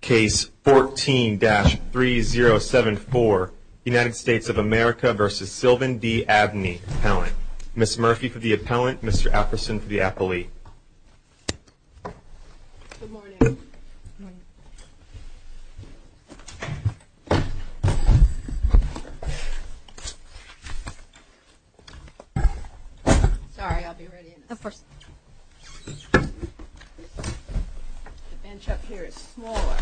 Case 14-3074, United States of America v. Sylvan D. Abney Appellant. Ms. Murphy for the appellant, Mr. Apperson for the appellee. Good morning. Sorry, I'll be right in. Of course. The bench up here is smaller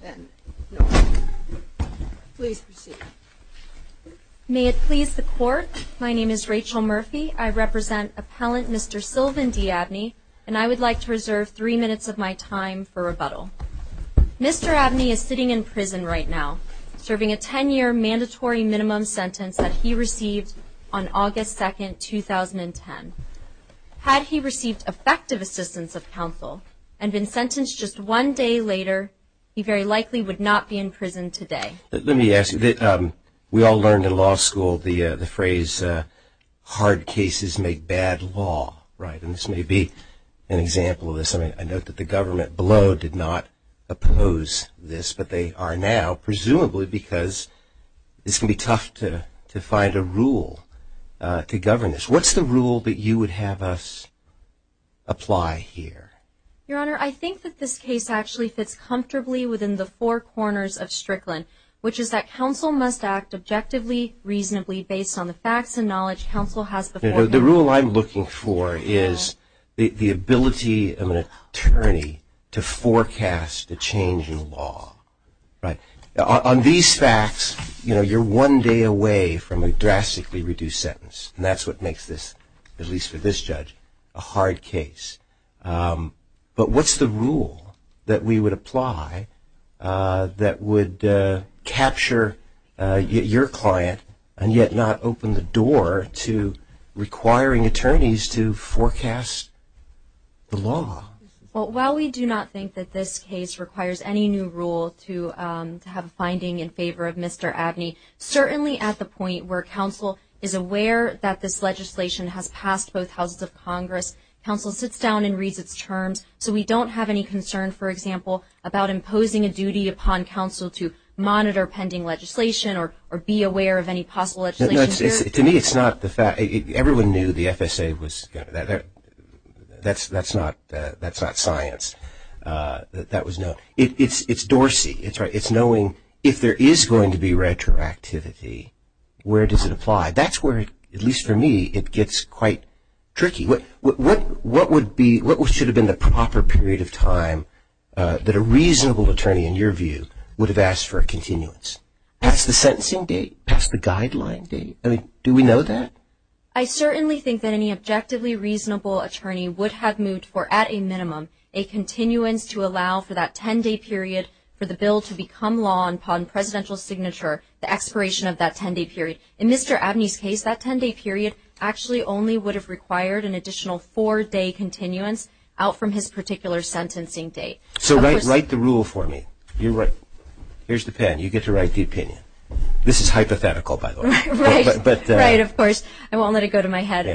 than normal. Please proceed. May it please the Court, my name is Rachel Murphy. I represent Appellant Mr. Sylvan D. Abney, and I would like to reserve three minutes of my time for rebuttal. Mr. Abney is sitting in prison right now, serving a 10-year mandatory minimum sentence that he received on August 2, 2010. Had he received effective assistance of counsel and been sentenced just one day later, he very likely would not be in prison today. Let me ask you, we all learned in law school the phrase, hard cases make bad law, right? And this may be an example of this. I note that the government below did not oppose this, but they are now, presumably because this can be tough to find a rule to govern this. What's the rule that you would have us apply here? Your Honor, I think that this case actually fits comfortably within the four corners of Strickland, which is that counsel must act objectively, reasonably, based on the facts and knowledge counsel has before him. The rule I'm looking for is the ability of an attorney to forecast the change in law. On these facts, you're one day away from a drastically reduced sentence, and that's what makes this, at least for this judge, a hard case. But what's the rule that we would apply that would capture your client and yet not open the door to requiring attorneys to forecast the law? Well, while we do not think that this case requires any new rule to have a finding in favor of Mr. Abney, certainly at the point where counsel is aware that this legislation has passed both houses of Congress, counsel sits down and reads its terms. So we don't have any concern, for example, about imposing a duty upon counsel to monitor pending legislation or be aware of any possible legislation. To me, it's not the fact. Everyone knew the FSA was going to be there. That's not science. That was not. It's Dorsey. It's knowing if there is going to be retroactivity, where does it apply? That's where, at least for me, it gets quite tricky. What should have been the proper period of time that a reasonable attorney, in your view, would have asked for a continuance? Past the sentencing date? Past the guideline date? Do we know that? I certainly think that any objectively reasonable attorney would have moved for, at a minimum, a continuance to allow for that ten-day period for the bill to become law upon presidential signature, the expiration of that ten-day period. In Mr. Abney's case, that ten-day period actually only would have required an additional four-day continuance out from his particular sentencing date. So write the rule for me. You're right. Here's the pen. You get to write the opinion. This is hypothetical, by the way. Right. Right, of course. I won't let it go to my head.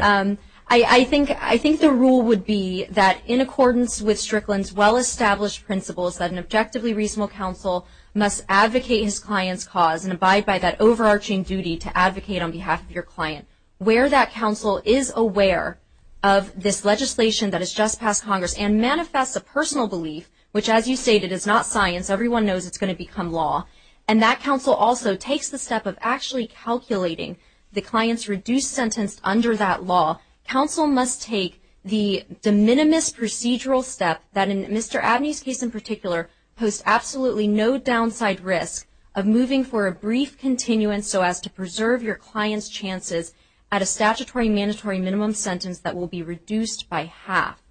I think the rule would be that, in accordance with Strickland's well-established principles, that an objectively reasonable counsel must advocate his client's cause and abide by that overarching duty to advocate on behalf of your client, where that counsel is aware of this legislation that has just passed Congress and manifests a personal belief, which, as you stated, is not science. Everyone knows it's going to become law. And that counsel also takes the step of actually calculating the client's reduced sentence under that law. Counsel must take the de minimis procedural step that, in Mr. Abney's case in particular, posts absolutely no downside risk of moving for a brief continuance so as to preserve your client's chances at a statutory mandatory minimum sentence that will be reduced by half.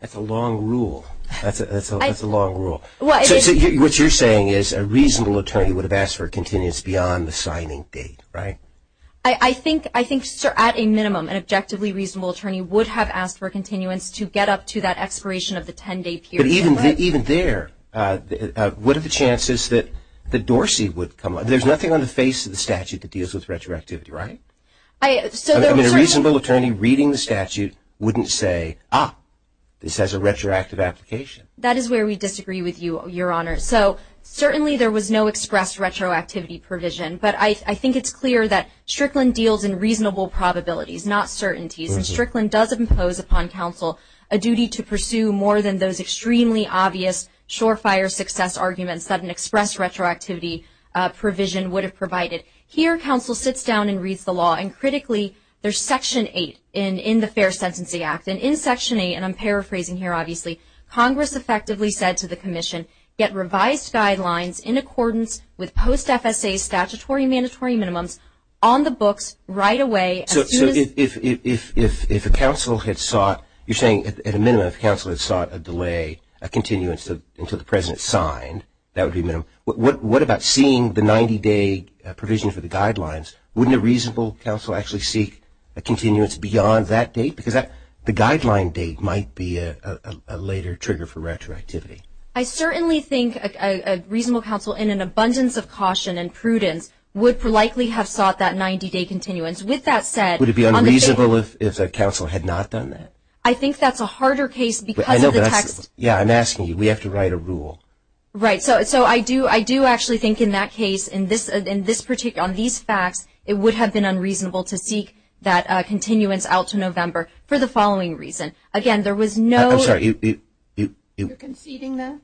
That's a long rule. That's a long rule. What you're saying is a reasonable attorney would have asked for a continuance beyond the signing date, right? I think, sir, at a minimum, an objectively reasonable attorney would have asked for a continuance to get up to that expiration of the 10-day period. But even there, what are the chances that Dorsey would come up? There's nothing on the face of the statute that deals with retroactivity, right? I mean, a reasonable attorney reading the statute wouldn't say, ah, this has a retroactive application. That is where we disagree with you, Your Honor. So certainly there was no express retroactivity provision. But I think it's clear that Strickland deals in reasonable probabilities, not certainties. And Strickland does impose upon counsel a duty to pursue more than those extremely obvious surefire success arguments that an express retroactivity provision would have provided. Here, counsel sits down and reads the law. And critically, there's Section 8 in the Fair Sentencing Act. And in Section 8, and I'm paraphrasing here, obviously, Congress effectively said to the Commission, get revised guidelines in accordance with post-FSA statutory and mandatory minimums on the books right away. So if a counsel had sought, you're saying at a minimum, if a counsel had sought a delay, a continuance until the President signed, that would be minimum. What about seeing the 90-day provision for the guidelines? Wouldn't a reasonable counsel actually seek a continuance beyond that date? Because the guideline date might be a later trigger for retroactivity. I certainly think a reasonable counsel, in an abundance of caution and prudence, would likely have sought that 90-day continuance. With that said, would it be unreasonable if the counsel had not done that? I think that's a harder case because of the text. We have to write a rule. Right. So I do actually think in that case, on these facts, it would have been unreasonable to seek that continuance out to November for the following reason. Again, there was no – I'm sorry. You're conceding there?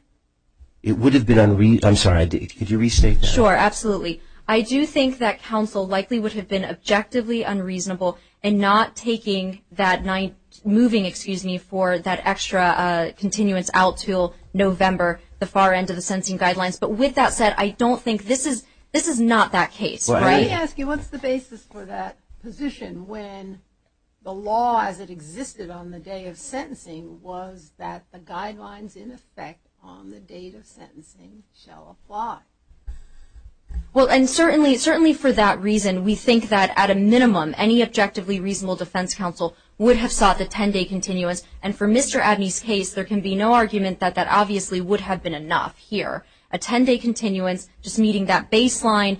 It would have been unreasonable. I'm sorry. Could you restate that? Sure. Absolutely. I do think that counsel likely would have been objectively unreasonable in not taking that – moving, excuse me, for that extra continuance out to November, the far end of the sentencing guidelines. But with that said, I don't think this is – this is not that case. Right. Let me ask you, what's the basis for that position when the law, as it existed on the day of sentencing, was that the guidelines in effect on the date of sentencing shall apply? Well, and certainly for that reason, we think that at a minimum any objectively reasonable defense counsel would have sought the 10-day continuance. And for Mr. Abney's case, there can be no argument that that obviously would have been enough here. A 10-day continuance, just meeting that baseline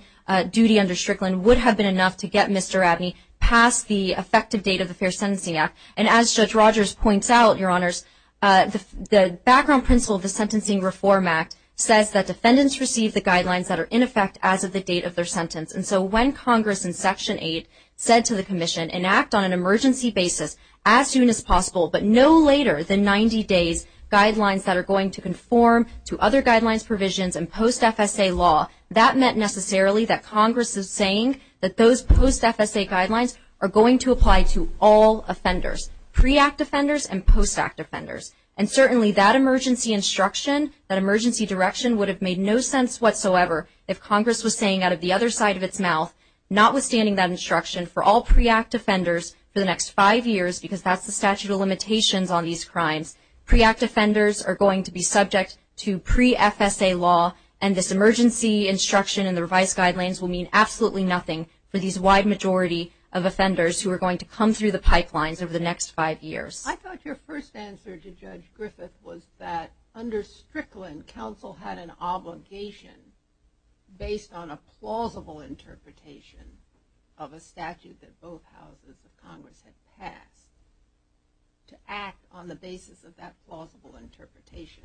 duty under Strickland, would have been enough to get Mr. Abney past the effective date of the Fair Sentencing Act. And as Judge Rogers points out, Your Honors, the background principle of the Sentencing Reform Act says that defendants receive the guidelines that are in effect as of the date of their sentence. And so when Congress in Section 8 said to the Commission, enact on an emergency basis as soon as possible, but no later than 90 days, guidelines that are going to conform to other guidelines, provisions, and post-FSA law, that meant necessarily that Congress is saying that those post-FSA guidelines are going to apply to all offenders, pre-Act offenders and post-Act offenders. And certainly that emergency instruction, that emergency direction, would have made no sense whatsoever if Congress was saying out of the other side of its mouth, notwithstanding that instruction, for all pre-Act offenders for the next five years, because that's the statute of limitations on these crimes. Pre-Act offenders are going to be subject to pre-FSA law, and this emergency instruction and the revised guidelines will mean absolutely nothing for these wide majority of offenders who are going to come through the pipelines over the next five years. I thought your first answer to Judge Griffith was that under Strickland, counsel had an obligation based on a plausible interpretation of a statute that both houses of Congress had passed to act on the basis of that plausible interpretation.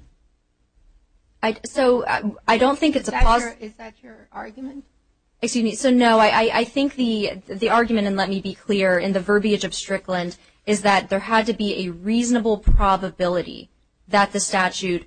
So I don't think it's a – Is that your argument? Excuse me. So no, I think the argument, and let me be clear, in the verbiage of Strickland, is that there had to be a reasonable probability that the statute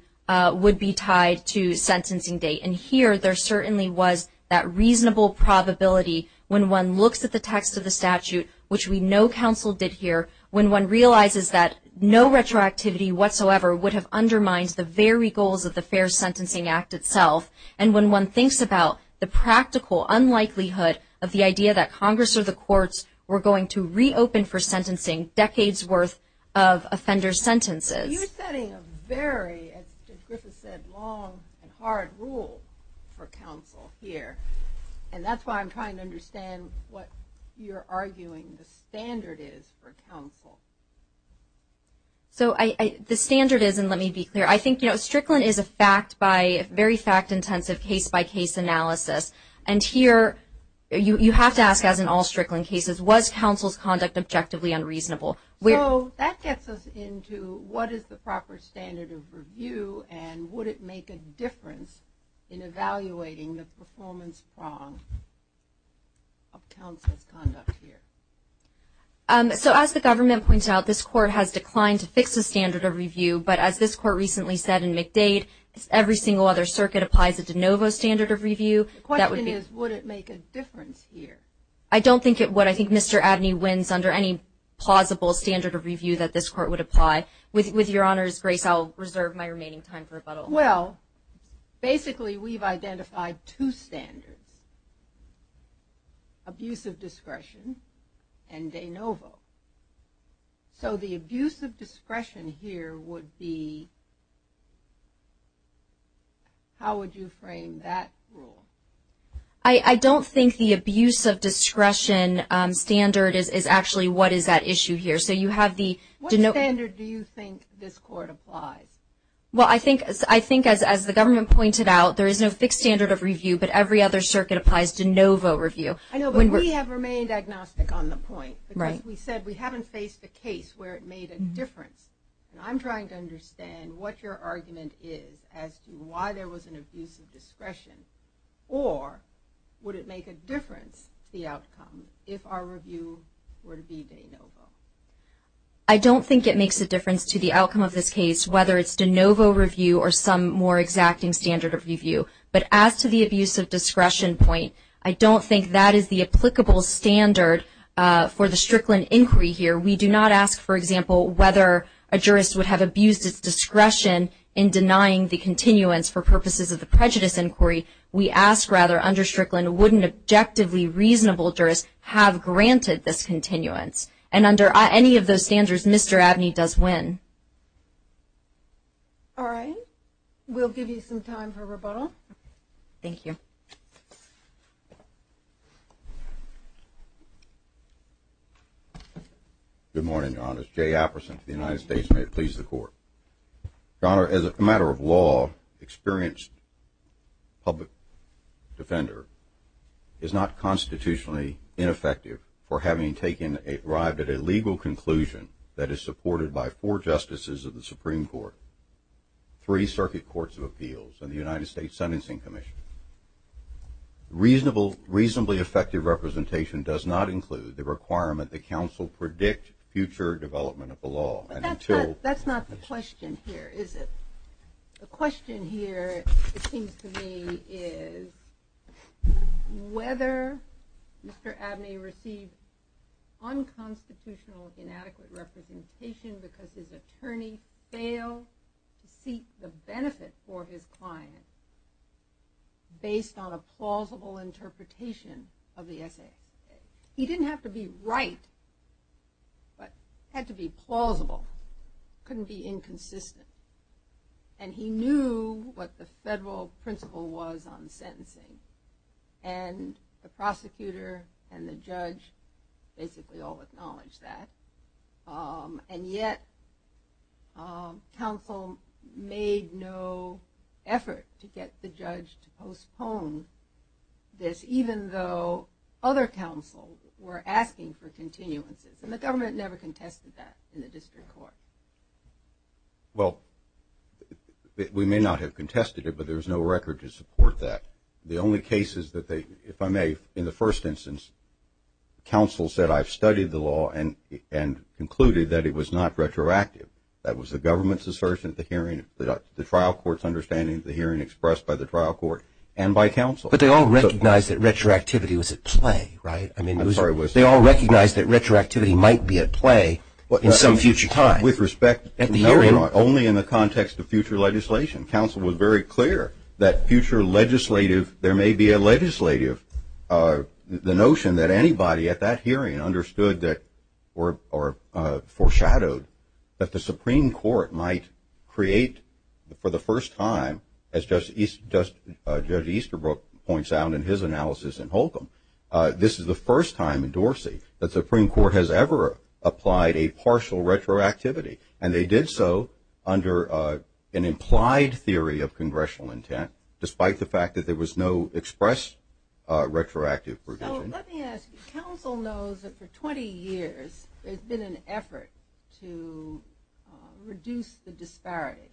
would be tied to sentencing date. And here there certainly was that reasonable probability when one looks at the text of the statute, which we know counsel did here, when one realizes that no retroactivity whatsoever would have undermined the very goals of the Fair Sentencing Act itself. And when one thinks about the practical unlikelihood of the idea that Congress or the courts were going to reopen for sentencing decades' worth of offender sentences. You're setting a very, as Judge Griffith said, long and hard rule for counsel here. And that's why I'm trying to understand what you're arguing the standard is for counsel. So the standard is, and let me be clear, I think Strickland is a very fact-intensive case-by-case analysis. And here you have to ask, as in all Strickland cases, was counsel's conduct objectively unreasonable? So that gets us into what is the proper standard of review, and would it make a difference in evaluating the performance prong of counsel's conduct here? So as the government points out, this court has declined to fix the standard of review. But as this court recently said in McDade, every single other circuit applies a de novo standard of review. The question is, would it make a difference here? I don't think it would. I think Mr. Abney wins under any plausible standard of review that this court would apply. With your honors, Grace, I'll reserve my remaining time for rebuttal. Well, basically we've identified two standards, abusive discretion and de novo. So the abusive discretion here would be, how would you frame that rule? I don't think the abusive discretion standard is actually what is at issue here. So you have the de novo. What standard do you think this court applies? Well, I think as the government pointed out, there is no fixed standard of review, but every other circuit applies de novo review. I know, but we have remained agnostic on the point because we said we haven't faced a case where it made a difference. And I'm trying to understand what your argument is as to why there was an abusive discretion, or would it make a difference to the outcome if our review were to be de novo? I don't think it makes a difference to the outcome of this case, whether it's de novo review or some more exacting standard of review. But as to the abusive discretion point, I don't think that is the applicable standard for the Strickland inquiry here. We do not ask, for example, whether a jurist would have abused his discretion in denying the continuance for purposes of the prejudice inquiry. We ask, rather, under Strickland, would an objectively reasonable jurist have granted this continuance? And under any of those standards, Mr. Abney does win. All right. We'll give you some time for rebuttal. Thank you. Good morning, Your Honor. It's Jay Apperson for the United States. May it please the Court. Your Honor, as a matter of law, an experienced public defender is not constitutionally ineffective for having arrived at a legal conclusion that is supported by four justices of the Supreme Court, three circuit courts of appeals, and the United States Sentencing Commission. Reasonably effective representation does not include the requirement that counsel predict future development of the law. That's not the question here, is it? The question here, it seems to me, is whether Mr. Abney received unconstitutional, inadequate representation because his attorney failed to seek the benefit for his client based on a plausible interpretation of the essay. He didn't have to be right, but it had to be plausible. It couldn't be inconsistent. And he knew what the federal principle was on sentencing. And the prosecutor and the judge basically all acknowledged that. And yet, counsel made no effort to get the judge to postpone this, even though other counsel were asking for continuances. And the government never contested that in the district court. Well, we may not have contested it, but there's no record to support that. The only cases that they, if I may, in the first instance, counsel said I've studied the law and concluded that it was not retroactive. That was the government's assertion at the hearing, the trial court's understanding at the hearing expressed by the trial court and by counsel. But they all recognized that retroactivity was at play, right? They all recognized that retroactivity might be at play in some future time. With respect, only in the context of future legislation, counsel was very clear that future legislative, there may be a legislative, the notion that anybody at that hearing understood or foreshadowed that the Supreme Court might create, for the first time, as Judge Easterbrook points out in his analysis in Holcomb, this is the first time in Dorsey that the Supreme Court has ever applied a partial retroactivity. And they did so under an implied theory of congressional intent, despite the fact that there was no expressed retroactive provision. So let me ask you. Counsel knows that for 20 years there's been an effort to reduce the disparity.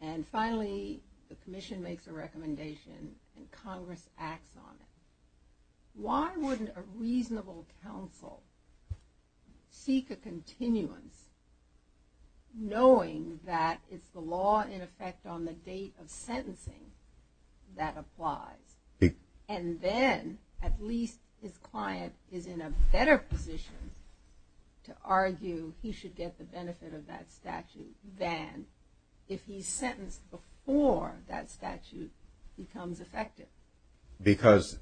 And finally, the commission makes a recommendation and Congress acts on it. Why wouldn't a reasonable counsel seek a continuance, knowing that it's the law in effect on the date of sentencing that applies, and then at least his client is in a better position to argue he should get the benefit of that statute than if he's sentenced before that statute becomes effective? Because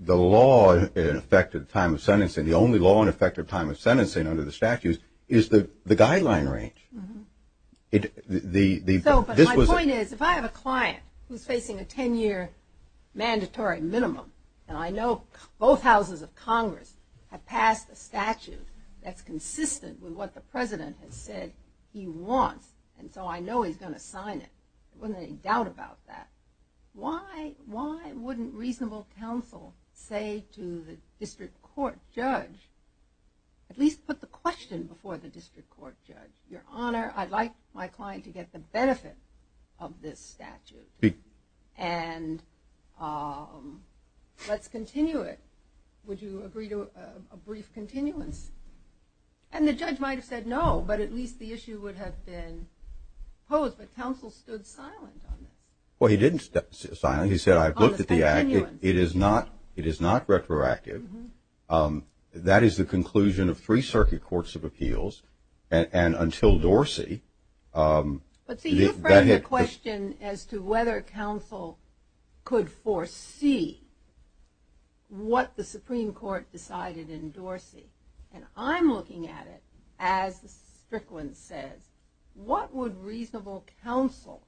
the law in effect at the time of sentencing, the only law in effect at the time of sentencing under the statutes, is the guideline range. So my point is, if I have a client who's facing a 10-year mandatory minimum, and I know both houses of Congress have passed a statute that's consistent with what the President has said he wants, and so I know he's going to sign it, there wasn't any doubt about that, why wouldn't reasonable counsel say to the district court judge, at least put the question before the district court judge, Your Honor, I'd like my client to get the benefit of this statute and let's continue it. Would you agree to a brief continuance? And the judge might have said no, but at least the issue would have been posed, but counsel stood silent on it. Well, he didn't stand silent. He said, I've looked at the act. It is not retroactive. That is the conclusion of three circuit courts of appeals, and until Dorsey. But, see, you've raised a question as to whether counsel could foresee what the Supreme Court decided in Dorsey, and I'm looking at it as Strickland says. What would reasonable counsel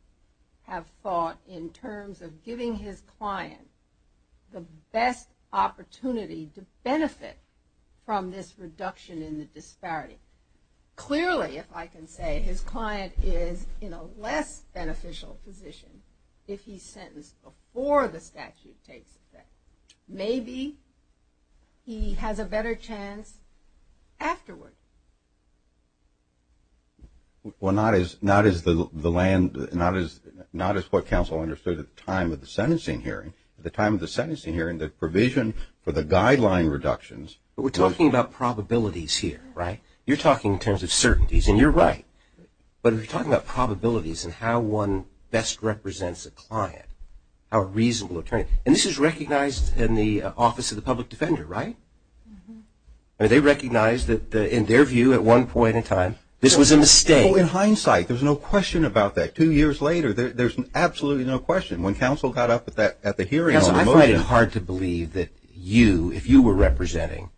have thought in terms of giving his client the best opportunity to benefit from this reduction in the disparity? Clearly, if I can say, his client is in a less beneficial position if he's sentenced before the statute takes effect. Maybe he has a better chance afterward. Well, not as what counsel understood at the time of the sentencing hearing. At the time of the sentencing hearing, the provision for the guideline reductions. But we're talking about probabilities here, right? You're talking in terms of certainties, and you're right. But we're talking about probabilities and how one best represents a client, a reasonable attorney. And this is recognized in the Office of the Public Defender, right? They recognize that in their view at one point in time, this was a mistake. In hindsight, there's no question about that. Two years later, there's absolutely no question. I find it hard to believe that you, if you were representing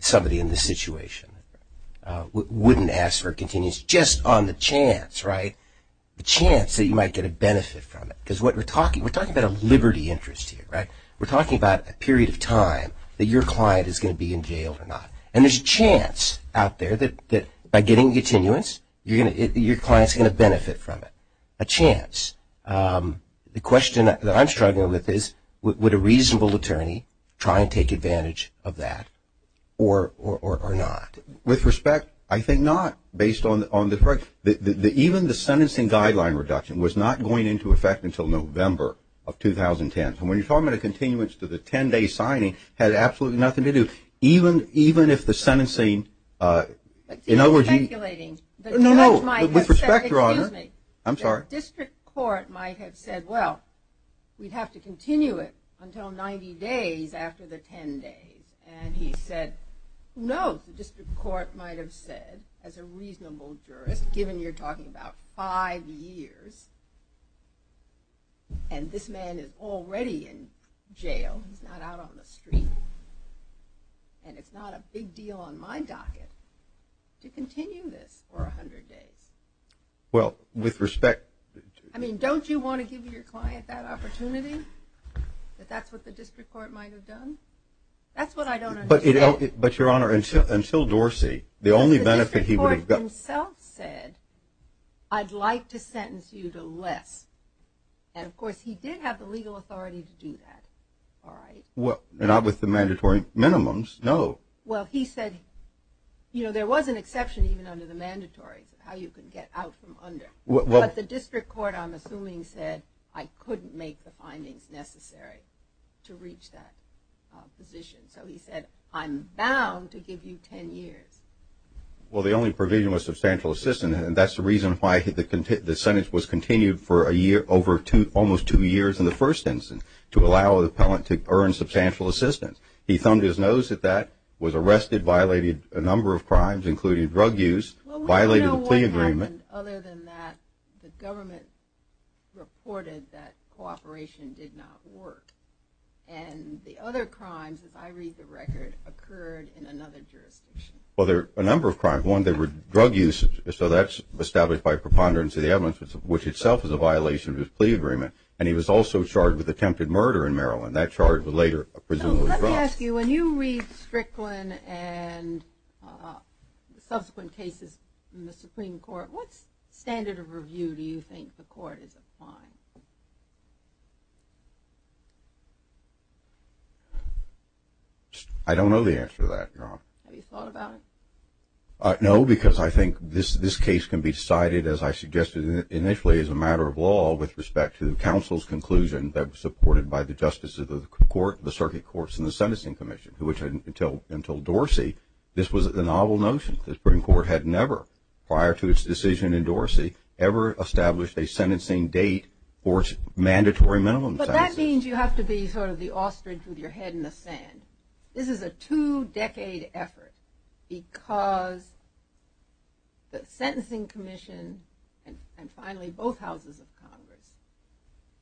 somebody in this situation, wouldn't ask for a continuance just on the chance, right? The chance that you might get a benefit from it. Because we're talking about a liberty interest here, right? We're talking about a period of time that your client is going to be in jail or not. And there's a chance out there that by getting a continuance, your client's going to benefit from it. A chance. The question that I'm struggling with is, would a reasonable attorney try and take advantage of that or not? With respect, I think not, based on the – even the sentencing guideline reduction was not going into effect until November of 2010. And when you're talking about a continuance to the 10-day signing, it had absolutely nothing to do. Even if the sentencing – in other words, you – You're speculating. No, no. With respect, Your Honor. Excuse me. I'm sorry. The district court might have said, well, we'd have to continue it until 90 days after the 10 days. And he said, no. The district court might have said, as a reasonable jurist, given you're talking about five years, and this man is already in jail, he's not out on the street, and it's not a big deal on my docket to continue this for 100 days. Well, with respect – I mean, don't you want to give your client that opportunity, that that's what the district court might have done? That's what I don't understand. But, Your Honor, until Dorsey, the only benefit he would have gotten – Not with the mandatory minimums, no. Well, he said, you know, there was an exception even under the mandatory, how you can get out from under. But the district court, I'm assuming, said, I couldn't make the findings necessary to reach that position. So he said, I'm bound to give you 10 years. Well, the only provision was substantial assistance, and that's the reason why the sentence was continued for a year over almost two years in the first instance, to allow the appellant to earn substantial assistance. He thumbed his nose at that, was arrested, violated a number of crimes, including drug use, violated a plea agreement. Well, we don't know what happened other than that the government reported that cooperation did not work. And the other crimes, if I read the record, occurred in another jurisdiction. Well, there are a number of crimes. One, there were drug use, so that's established by preponderance of the evidence, which itself is a violation of his plea agreement. And he was also charged with attempted murder in Maryland. That charge was later presumably dropped. So let me ask you, when you read Strickland and subsequent cases in the Supreme Court, what standard of review do you think the court is applying? I don't know the answer to that, Your Honor. Have you thought about it? No, because I think this case can be decided, as I suggested initially, as a matter of law with respect to counsel's conclusion that was supported by the justice of the court, the circuit courts, and the sentencing commission, which until Dorsey, this was a novel notion. The Supreme Court had never, prior to its decision in Dorsey, ever established a sentencing date for mandatory minimum sentences. But that means you have to be sort of the ostrich with your head in the sand. This is a two-decade effort because the sentencing commission and finally both houses of Congress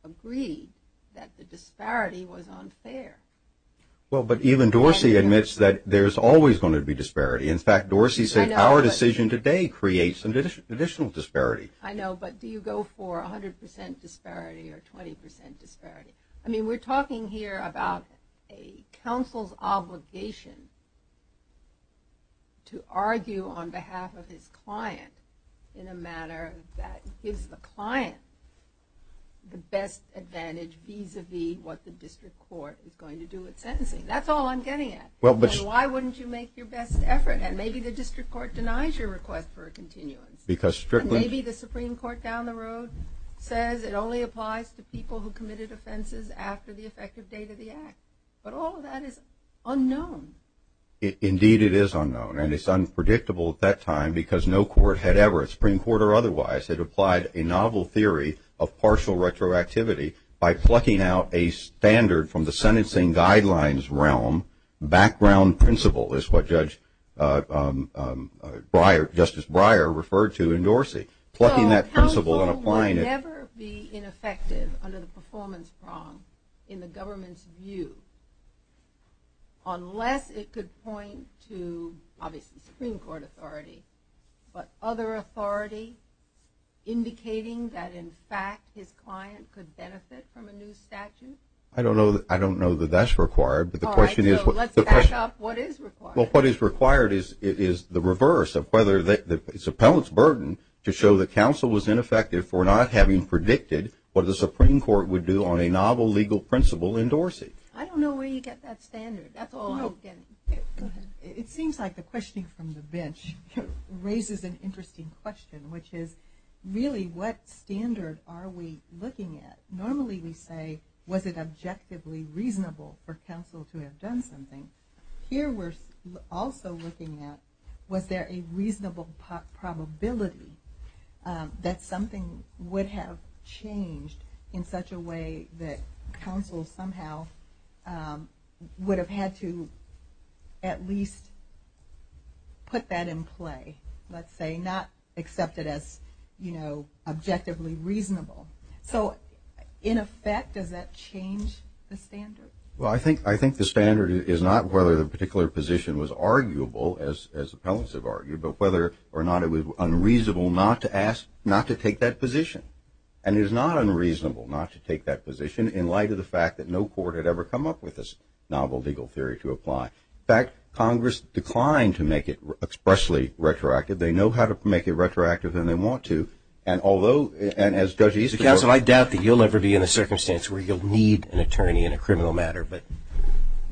agreed that the disparity was unfair. Well, but even Dorsey admits that there's always going to be disparity. In fact, Dorsey said our decision today creates additional disparity. I know, but do you go for 100% disparity or 20% disparity? I mean, we're talking here about a counsel's obligation to argue on behalf of his client in a manner that gives the client the best advantage vis-a-vis what the district court is going to do with sentencing. That's all I'm getting at. Why wouldn't you make your best effort? And maybe the district court denies your request for a continuance. And maybe the Supreme Court down the road says it only applies to people who committed offenses after the effective date of the act. But all of that is unknown. Indeed, it is unknown. And it's unpredictable at that time because no court had ever, Supreme Court or otherwise, had applied a novel theory of partial retroactivity by plucking out a standard from the sentencing guidelines realm, background principle, is what Justice Breyer referred to in Dorsey. Plucking that principle and applying it. So counsel would never be ineffective under the performance prong in the government's view unless it could point to, obviously, Supreme Court authority, but other authority indicating that, in fact, his client could benefit from a new statute? I don't know that that's required. All right. So let's back up. What is required? Well, what is required is the reverse of whether it's appellant's burden to show that counsel was ineffective for not having predicted what the Supreme Court would do on a novel legal principle in Dorsey. I don't know where you get that standard. That's all I'm getting. Go ahead. It seems like the questioning from the bench raises an interesting question, which is really what standard are we looking at? Normally we say, was it objectively reasonable for counsel to have done something? Here we're also looking at, was there a reasonable probability that something would have changed in such a way that counsel somehow would have had to at least put that in play, let's say, not accept it as, you know, objectively reasonable. So in effect, does that change the standard? Well, I think the standard is not whether the particular position was arguable, as appellants have argued, but whether or not it was unreasonable not to take that position. And it is not unreasonable not to take that position in light of the fact that no court had ever come up with this novel legal theory to apply. In fact, Congress declined to make it expressly retroactive. They know how to make it retroactive, and they want to. Counsel, I doubt that you'll ever be in a circumstance where you'll need an attorney in a criminal matter, but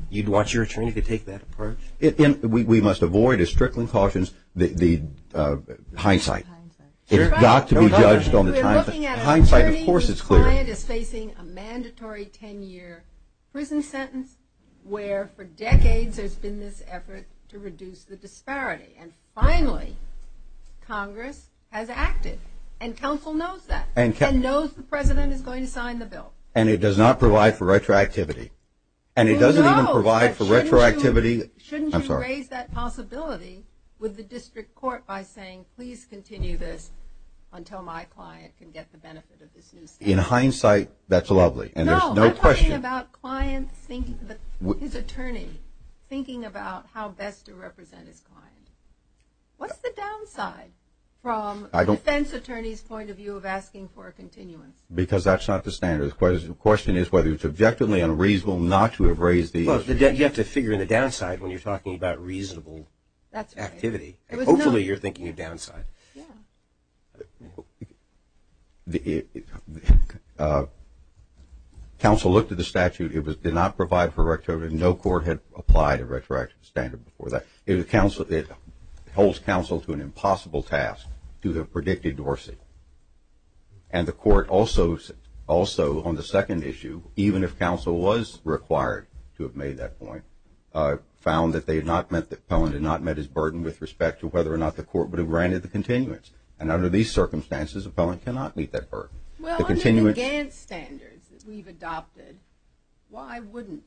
you'd want your attorney to take that approach? We must avoid, as Strickland cautions, the hindsight. It's got to be judged on the hindsight. We're looking at an attorney whose client is facing a mandatory 10-year prison sentence, where for decades there's been this effort to reduce the disparity. And finally, Congress has acted, and counsel knows that, and knows the president is going to sign the bill. And it does not provide for retroactivity. And it doesn't even provide for retroactivity. Shouldn't you raise that possibility with the district court by saying, please continue this until my client can get the benefit of this new standard? In hindsight, that's lovely, and there's no question. His attorney thinking about how best to represent his client. What's the downside from a defense attorney's point of view of asking for a continuance? Because that's not the standard. The question is whether it's objectively unreasonable not to have raised the issue. Well, you have to figure in the downside when you're talking about reasonable activity. Hopefully you're thinking of downside. Yeah. Counsel looked at the statute. It did not provide for retroactivity. No court had applied a retroactive standard before that. It holds counsel to an impossible task to have predicted Dorsey. And the court also on the second issue, even if counsel was required to have made that point, found that Pellin did not met his burden with respect to whether or not the court would have granted the continuance. And under these circumstances, Pellin cannot meet that burden. Well, under the Gantt standards that we've adopted, why wouldn't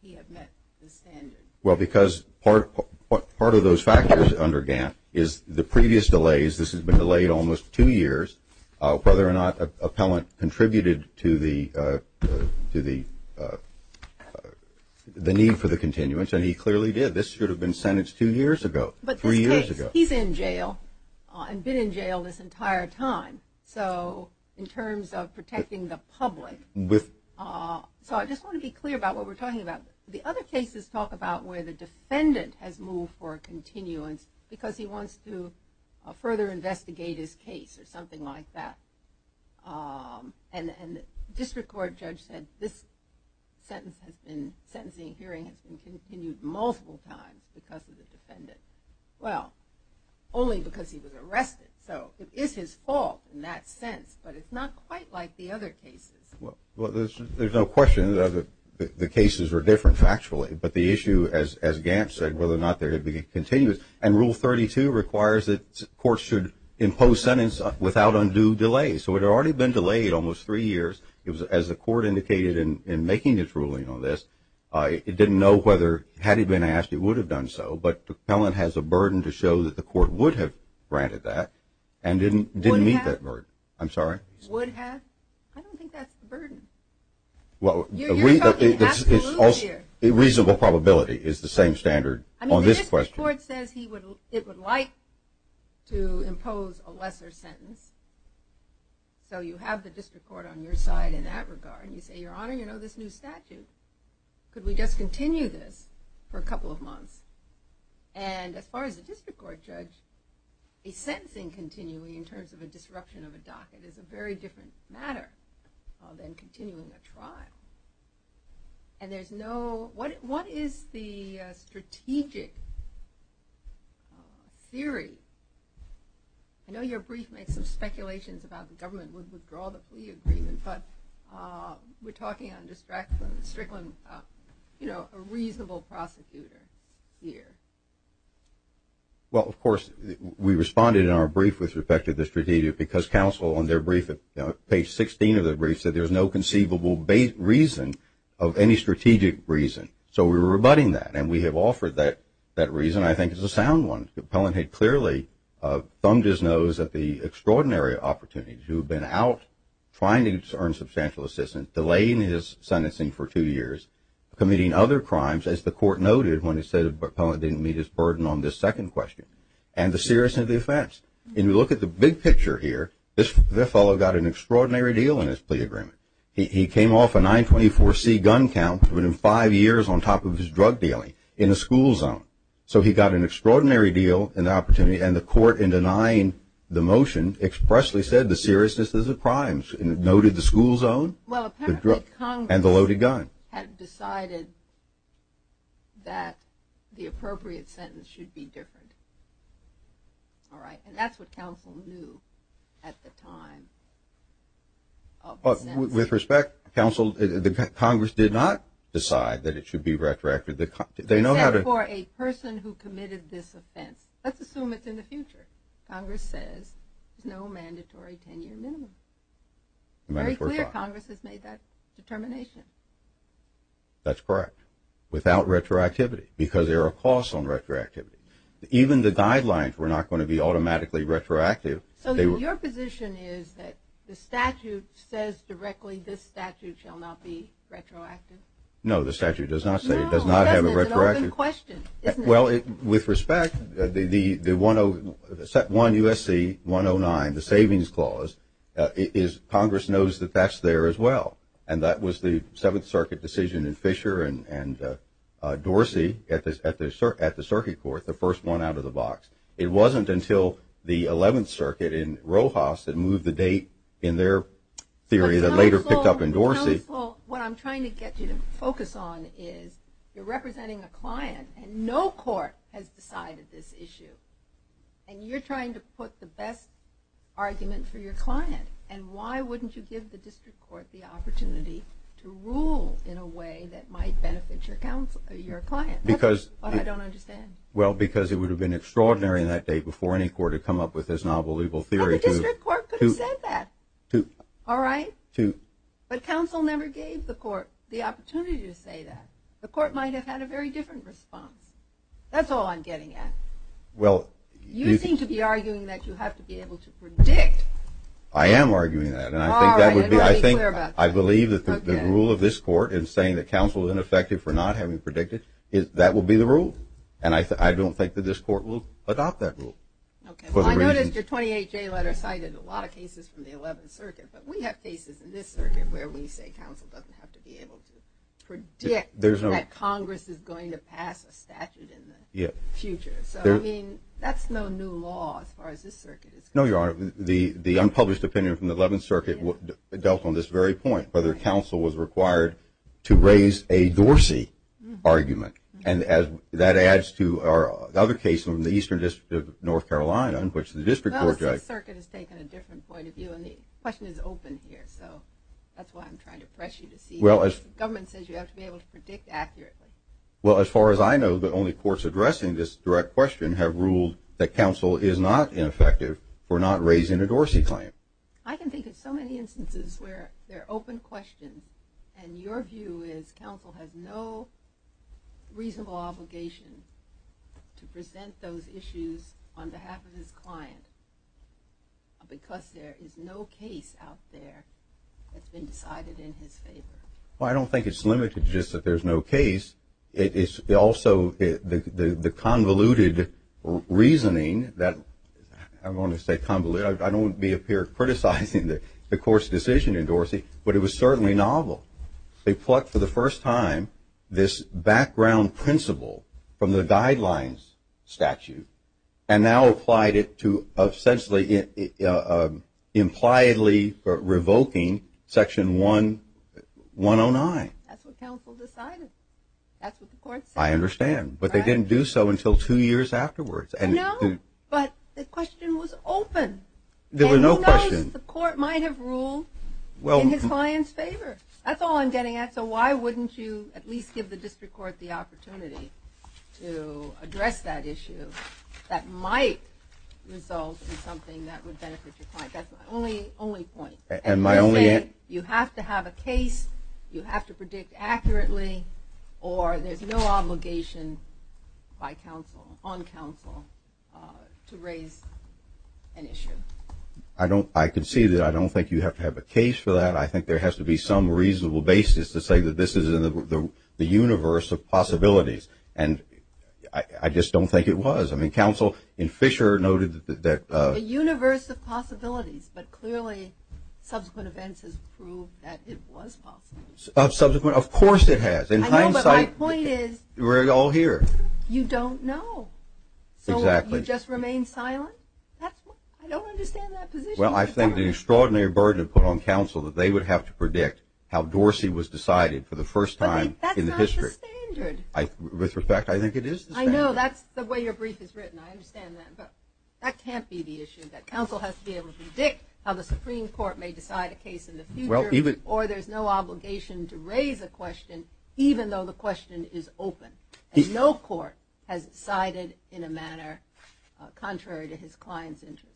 he have met the standards? Well, because part of those factors under Gantt is the previous delays. This has been delayed almost two years. Whether or not Pellin contributed to the need for the continuance, and he clearly did. This should have been sentenced two years ago, three years ago. He's in jail and been in jail this entire time. So in terms of protecting the public. So I just want to be clear about what we're talking about. The other cases talk about where the defendant has moved for a continuance because he wants to further investigate his case or something like that. And the district court judge said this sentence has been sentencing and hearing has been continued multiple times because of the defendant. Well, only because he was arrested. So it is his fault in that sense, but it's not quite like the other cases. Well, there's no question that the cases are different factually, but the issue, as Gantt said, whether or not there had been a continuance. And Rule 32 requires that courts should impose sentence without undue delay. So it had already been delayed almost three years. As the court indicated in making its ruling on this, it didn't know whether, had it been asked, it would have done so. But the felon has a burden to show that the court would have granted that and didn't meet that burden. I'm sorry? Would have? I don't think that's the burden. You're talking absolutely here. Reasonable probability is the same standard on this question. I mean, the district court says it would like to impose a lesser sentence. So you have the district court on your side in that regard. And you say, Your Honor, you know this new statute. Could we just continue this for a couple of months? And as far as the district court judge, a sentencing continuing in terms of a disruption of a docket is a very different matter than continuing a trial. And there's no – what is the strategic theory? I know your brief makes some speculations about the government would withdraw the plea agreement, but we're talking on district court, a reasonable prosecutor here. Well, of course, we responded in our brief with respect to the strategic because counsel on their brief, page 16 of their brief, said there's no conceivable reason of any strategic reason. So we're rebutting that. And we have offered that reason, I think, as a sound one. The felon had clearly thumbed his nose at the extraordinary opportunity to have been out trying to earn substantial assistance, delaying his sentencing for two years, committing other crimes, as the court noted when it said the appellant didn't meet his burden on this second question, and the seriousness of the offense. And you look at the big picture here. This fellow got an extraordinary deal in his plea agreement. He came off a 924C gun count within five years on top of his drug dealing in a school zone. So he got an extraordinary deal and opportunity. And the court, in denying the motion, expressly said the seriousness of the crimes and noted the school zone and the loaded gun. Well, apparently Congress had decided that the appropriate sentence should be different. All right. And that's what counsel knew at the time of the sentencing. With respect, the Congress did not decide that it should be retracted. They know how to. Except for a person who committed this offense. Let's assume it's in the future. Congress says there's no mandatory 10-year minimum. Very clear Congress has made that determination. That's correct. Without retroactivity, because there are costs on retroactivity. Even the guidelines were not going to be automatically retroactive. So your position is that the statute says directly this statute shall not be retroactive? No, the statute does not say. It does not have a retroactive. Well, with respect, the 1 U.S.C. 109, the savings clause, Congress knows that that's there as well. And that was the Seventh Circuit decision in Fisher and Dorsey at the circuit court, the first one out of the box. It wasn't until the Eleventh Circuit in Rojas that moved the date in their theory that later picked up in Dorsey. Well, what I'm trying to get you to focus on is you're representing a client, and no court has decided this issue. And you're trying to put the best argument for your client. And why wouldn't you give the district court the opportunity to rule in a way that might benefit your client? That's what I don't understand. Well, because it would have been extraordinary in that day before any court had come up with this nonbelievable theory. But the district court could have said that. All right? But counsel never gave the court the opportunity to say that. The court might have had a very different response. That's all I'm getting at. You seem to be arguing that you have to be able to predict. I am arguing that. All right. And let me be clear about that. I believe that the rule of this court in saying that counsel is ineffective for not having predicted, that will be the rule. And I don't think that this court will adopt that rule. Okay. Well, I noticed your 28-J letter cited a lot of cases from the Eleventh Circuit. But we have cases in this circuit where we say counsel doesn't have to be able to predict that Congress is going to pass a statute in the future. So, I mean, that's no new law as far as this circuit is concerned. No, Your Honor. The unpublished opinion from the Eleventh Circuit dealt on this very point, whether counsel was required to raise a Dorsey argument. And that adds to our other case from the Eastern District of North Carolina in which the district court judge – Well, this circuit has taken a different point of view. And the question is open here, so that's why I'm trying to press you to see. The government says you have to be able to predict accurately. Well, as far as I know, the only courts addressing this direct question have ruled that counsel is not ineffective for not raising a Dorsey claim. I can think of so many instances where they're open questions, and your view is counsel has no reasonable obligation to present those issues on behalf of his client because there is no case out there that's been decided in his favor. Well, I don't think it's limited to just that there's no case. It's also the convoluted reasoning that – I don't want to say convoluted. I don't want to be a peer criticizing the court's decision in Dorsey, but it was certainly novel. They plucked for the first time this background principle from the guidelines statute and now applied it to essentially impliedly revoking Section 109. That's what counsel decided. That's what the court said. I understand, but they didn't do so until two years afterwards. No, but the question was open. There was no question. Suppose the court might have ruled in his client's favor. That's all I'm getting at. So why wouldn't you at least give the district court the opportunity to address that issue that might result in something that would benefit your client? That's my only point. You have to have a case, you have to predict accurately, or there's no obligation on counsel to raise an issue. I can see that. I don't think you have to have a case for that. I think there has to be some reasonable basis to say that this is in the universe of possibilities, and I just don't think it was. I mean, counsel in Fisher noted that – The universe of possibilities, but clearly subsequent events has proved that it was possible. Subsequent? Of course it has. In hindsight, we're all here. You don't know. Exactly. So you just remain silent? I don't understand that position. Well, I think the extraordinary burden put on counsel that they would have to predict how Dorsey was decided for the first time in the history. That's not the standard. With respect, I think it is the standard. I know. That's the way your brief is written. I understand that, but that can't be the issue, that counsel has to be able to predict how the Supreme Court may decide a case in the future, or there's no obligation to raise a question even though the question is open. No court has decided in a manner contrary to his client's interest.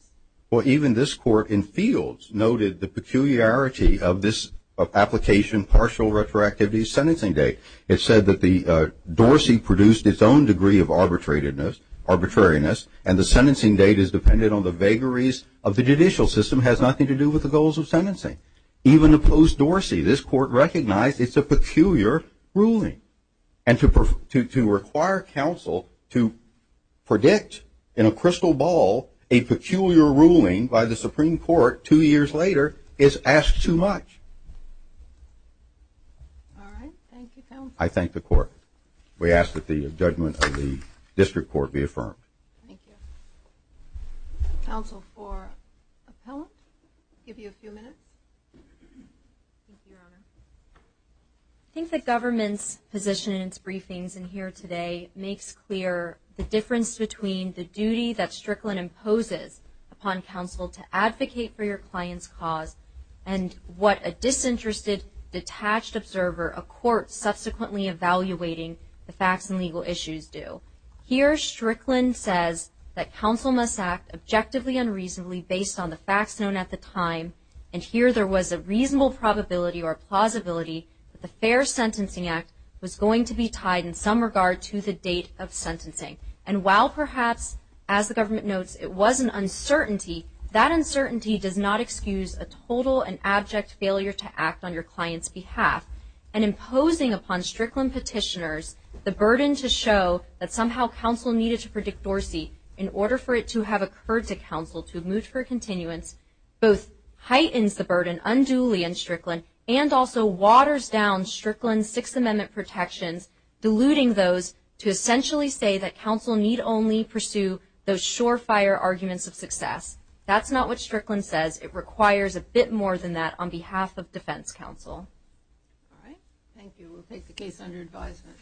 Well, even this court in Fields noted the peculiarity of this application, partial retroactivity, sentencing date. It said that Dorsey produced its own degree of arbitrariness, and the sentencing date is dependent on the vagaries of the judicial system, has nothing to do with the goals of sentencing. Even opposed Dorsey, this court recognized it's a peculiar ruling, and to require counsel to predict in a crystal ball a peculiar ruling by the Supreme Court two years later is asked too much. All right. Thank you, counsel. I thank the court. We ask that the judgment of the district court be affirmed. Thank you. Counsel for appellant. Give you a few minutes. Thank you, Your Honor. I think the government's position in its briefings in here today makes clear the difference between the duty that Strickland imposes upon counsel to advocate for your client's cause and what a disinterested, detached observer, a court subsequently evaluating the facts and legal issues do. Here, Strickland says that counsel must act objectively and reasonably based on the facts known at the time. And here there was a reasonable probability or plausibility that the fair sentencing act was going to be tied in some regard to the date of sentencing. And while perhaps, as the government notes, it was an uncertainty, that uncertainty does not excuse a total and abject failure to act on your client's behalf. And imposing upon Strickland petitioners the burden to show that somehow counsel needed to predict Dorsey in order for it to have occurred to counsel to have moved for continuance both heightens the burden unduly on Strickland and also waters down Strickland's Sixth Amendment protections, diluting those to essentially say that counsel need only pursue those surefire arguments of success. That's not what Strickland says. It requires a bit more than that on behalf of defense counsel. All right. Thank you. We'll take the case under advisement.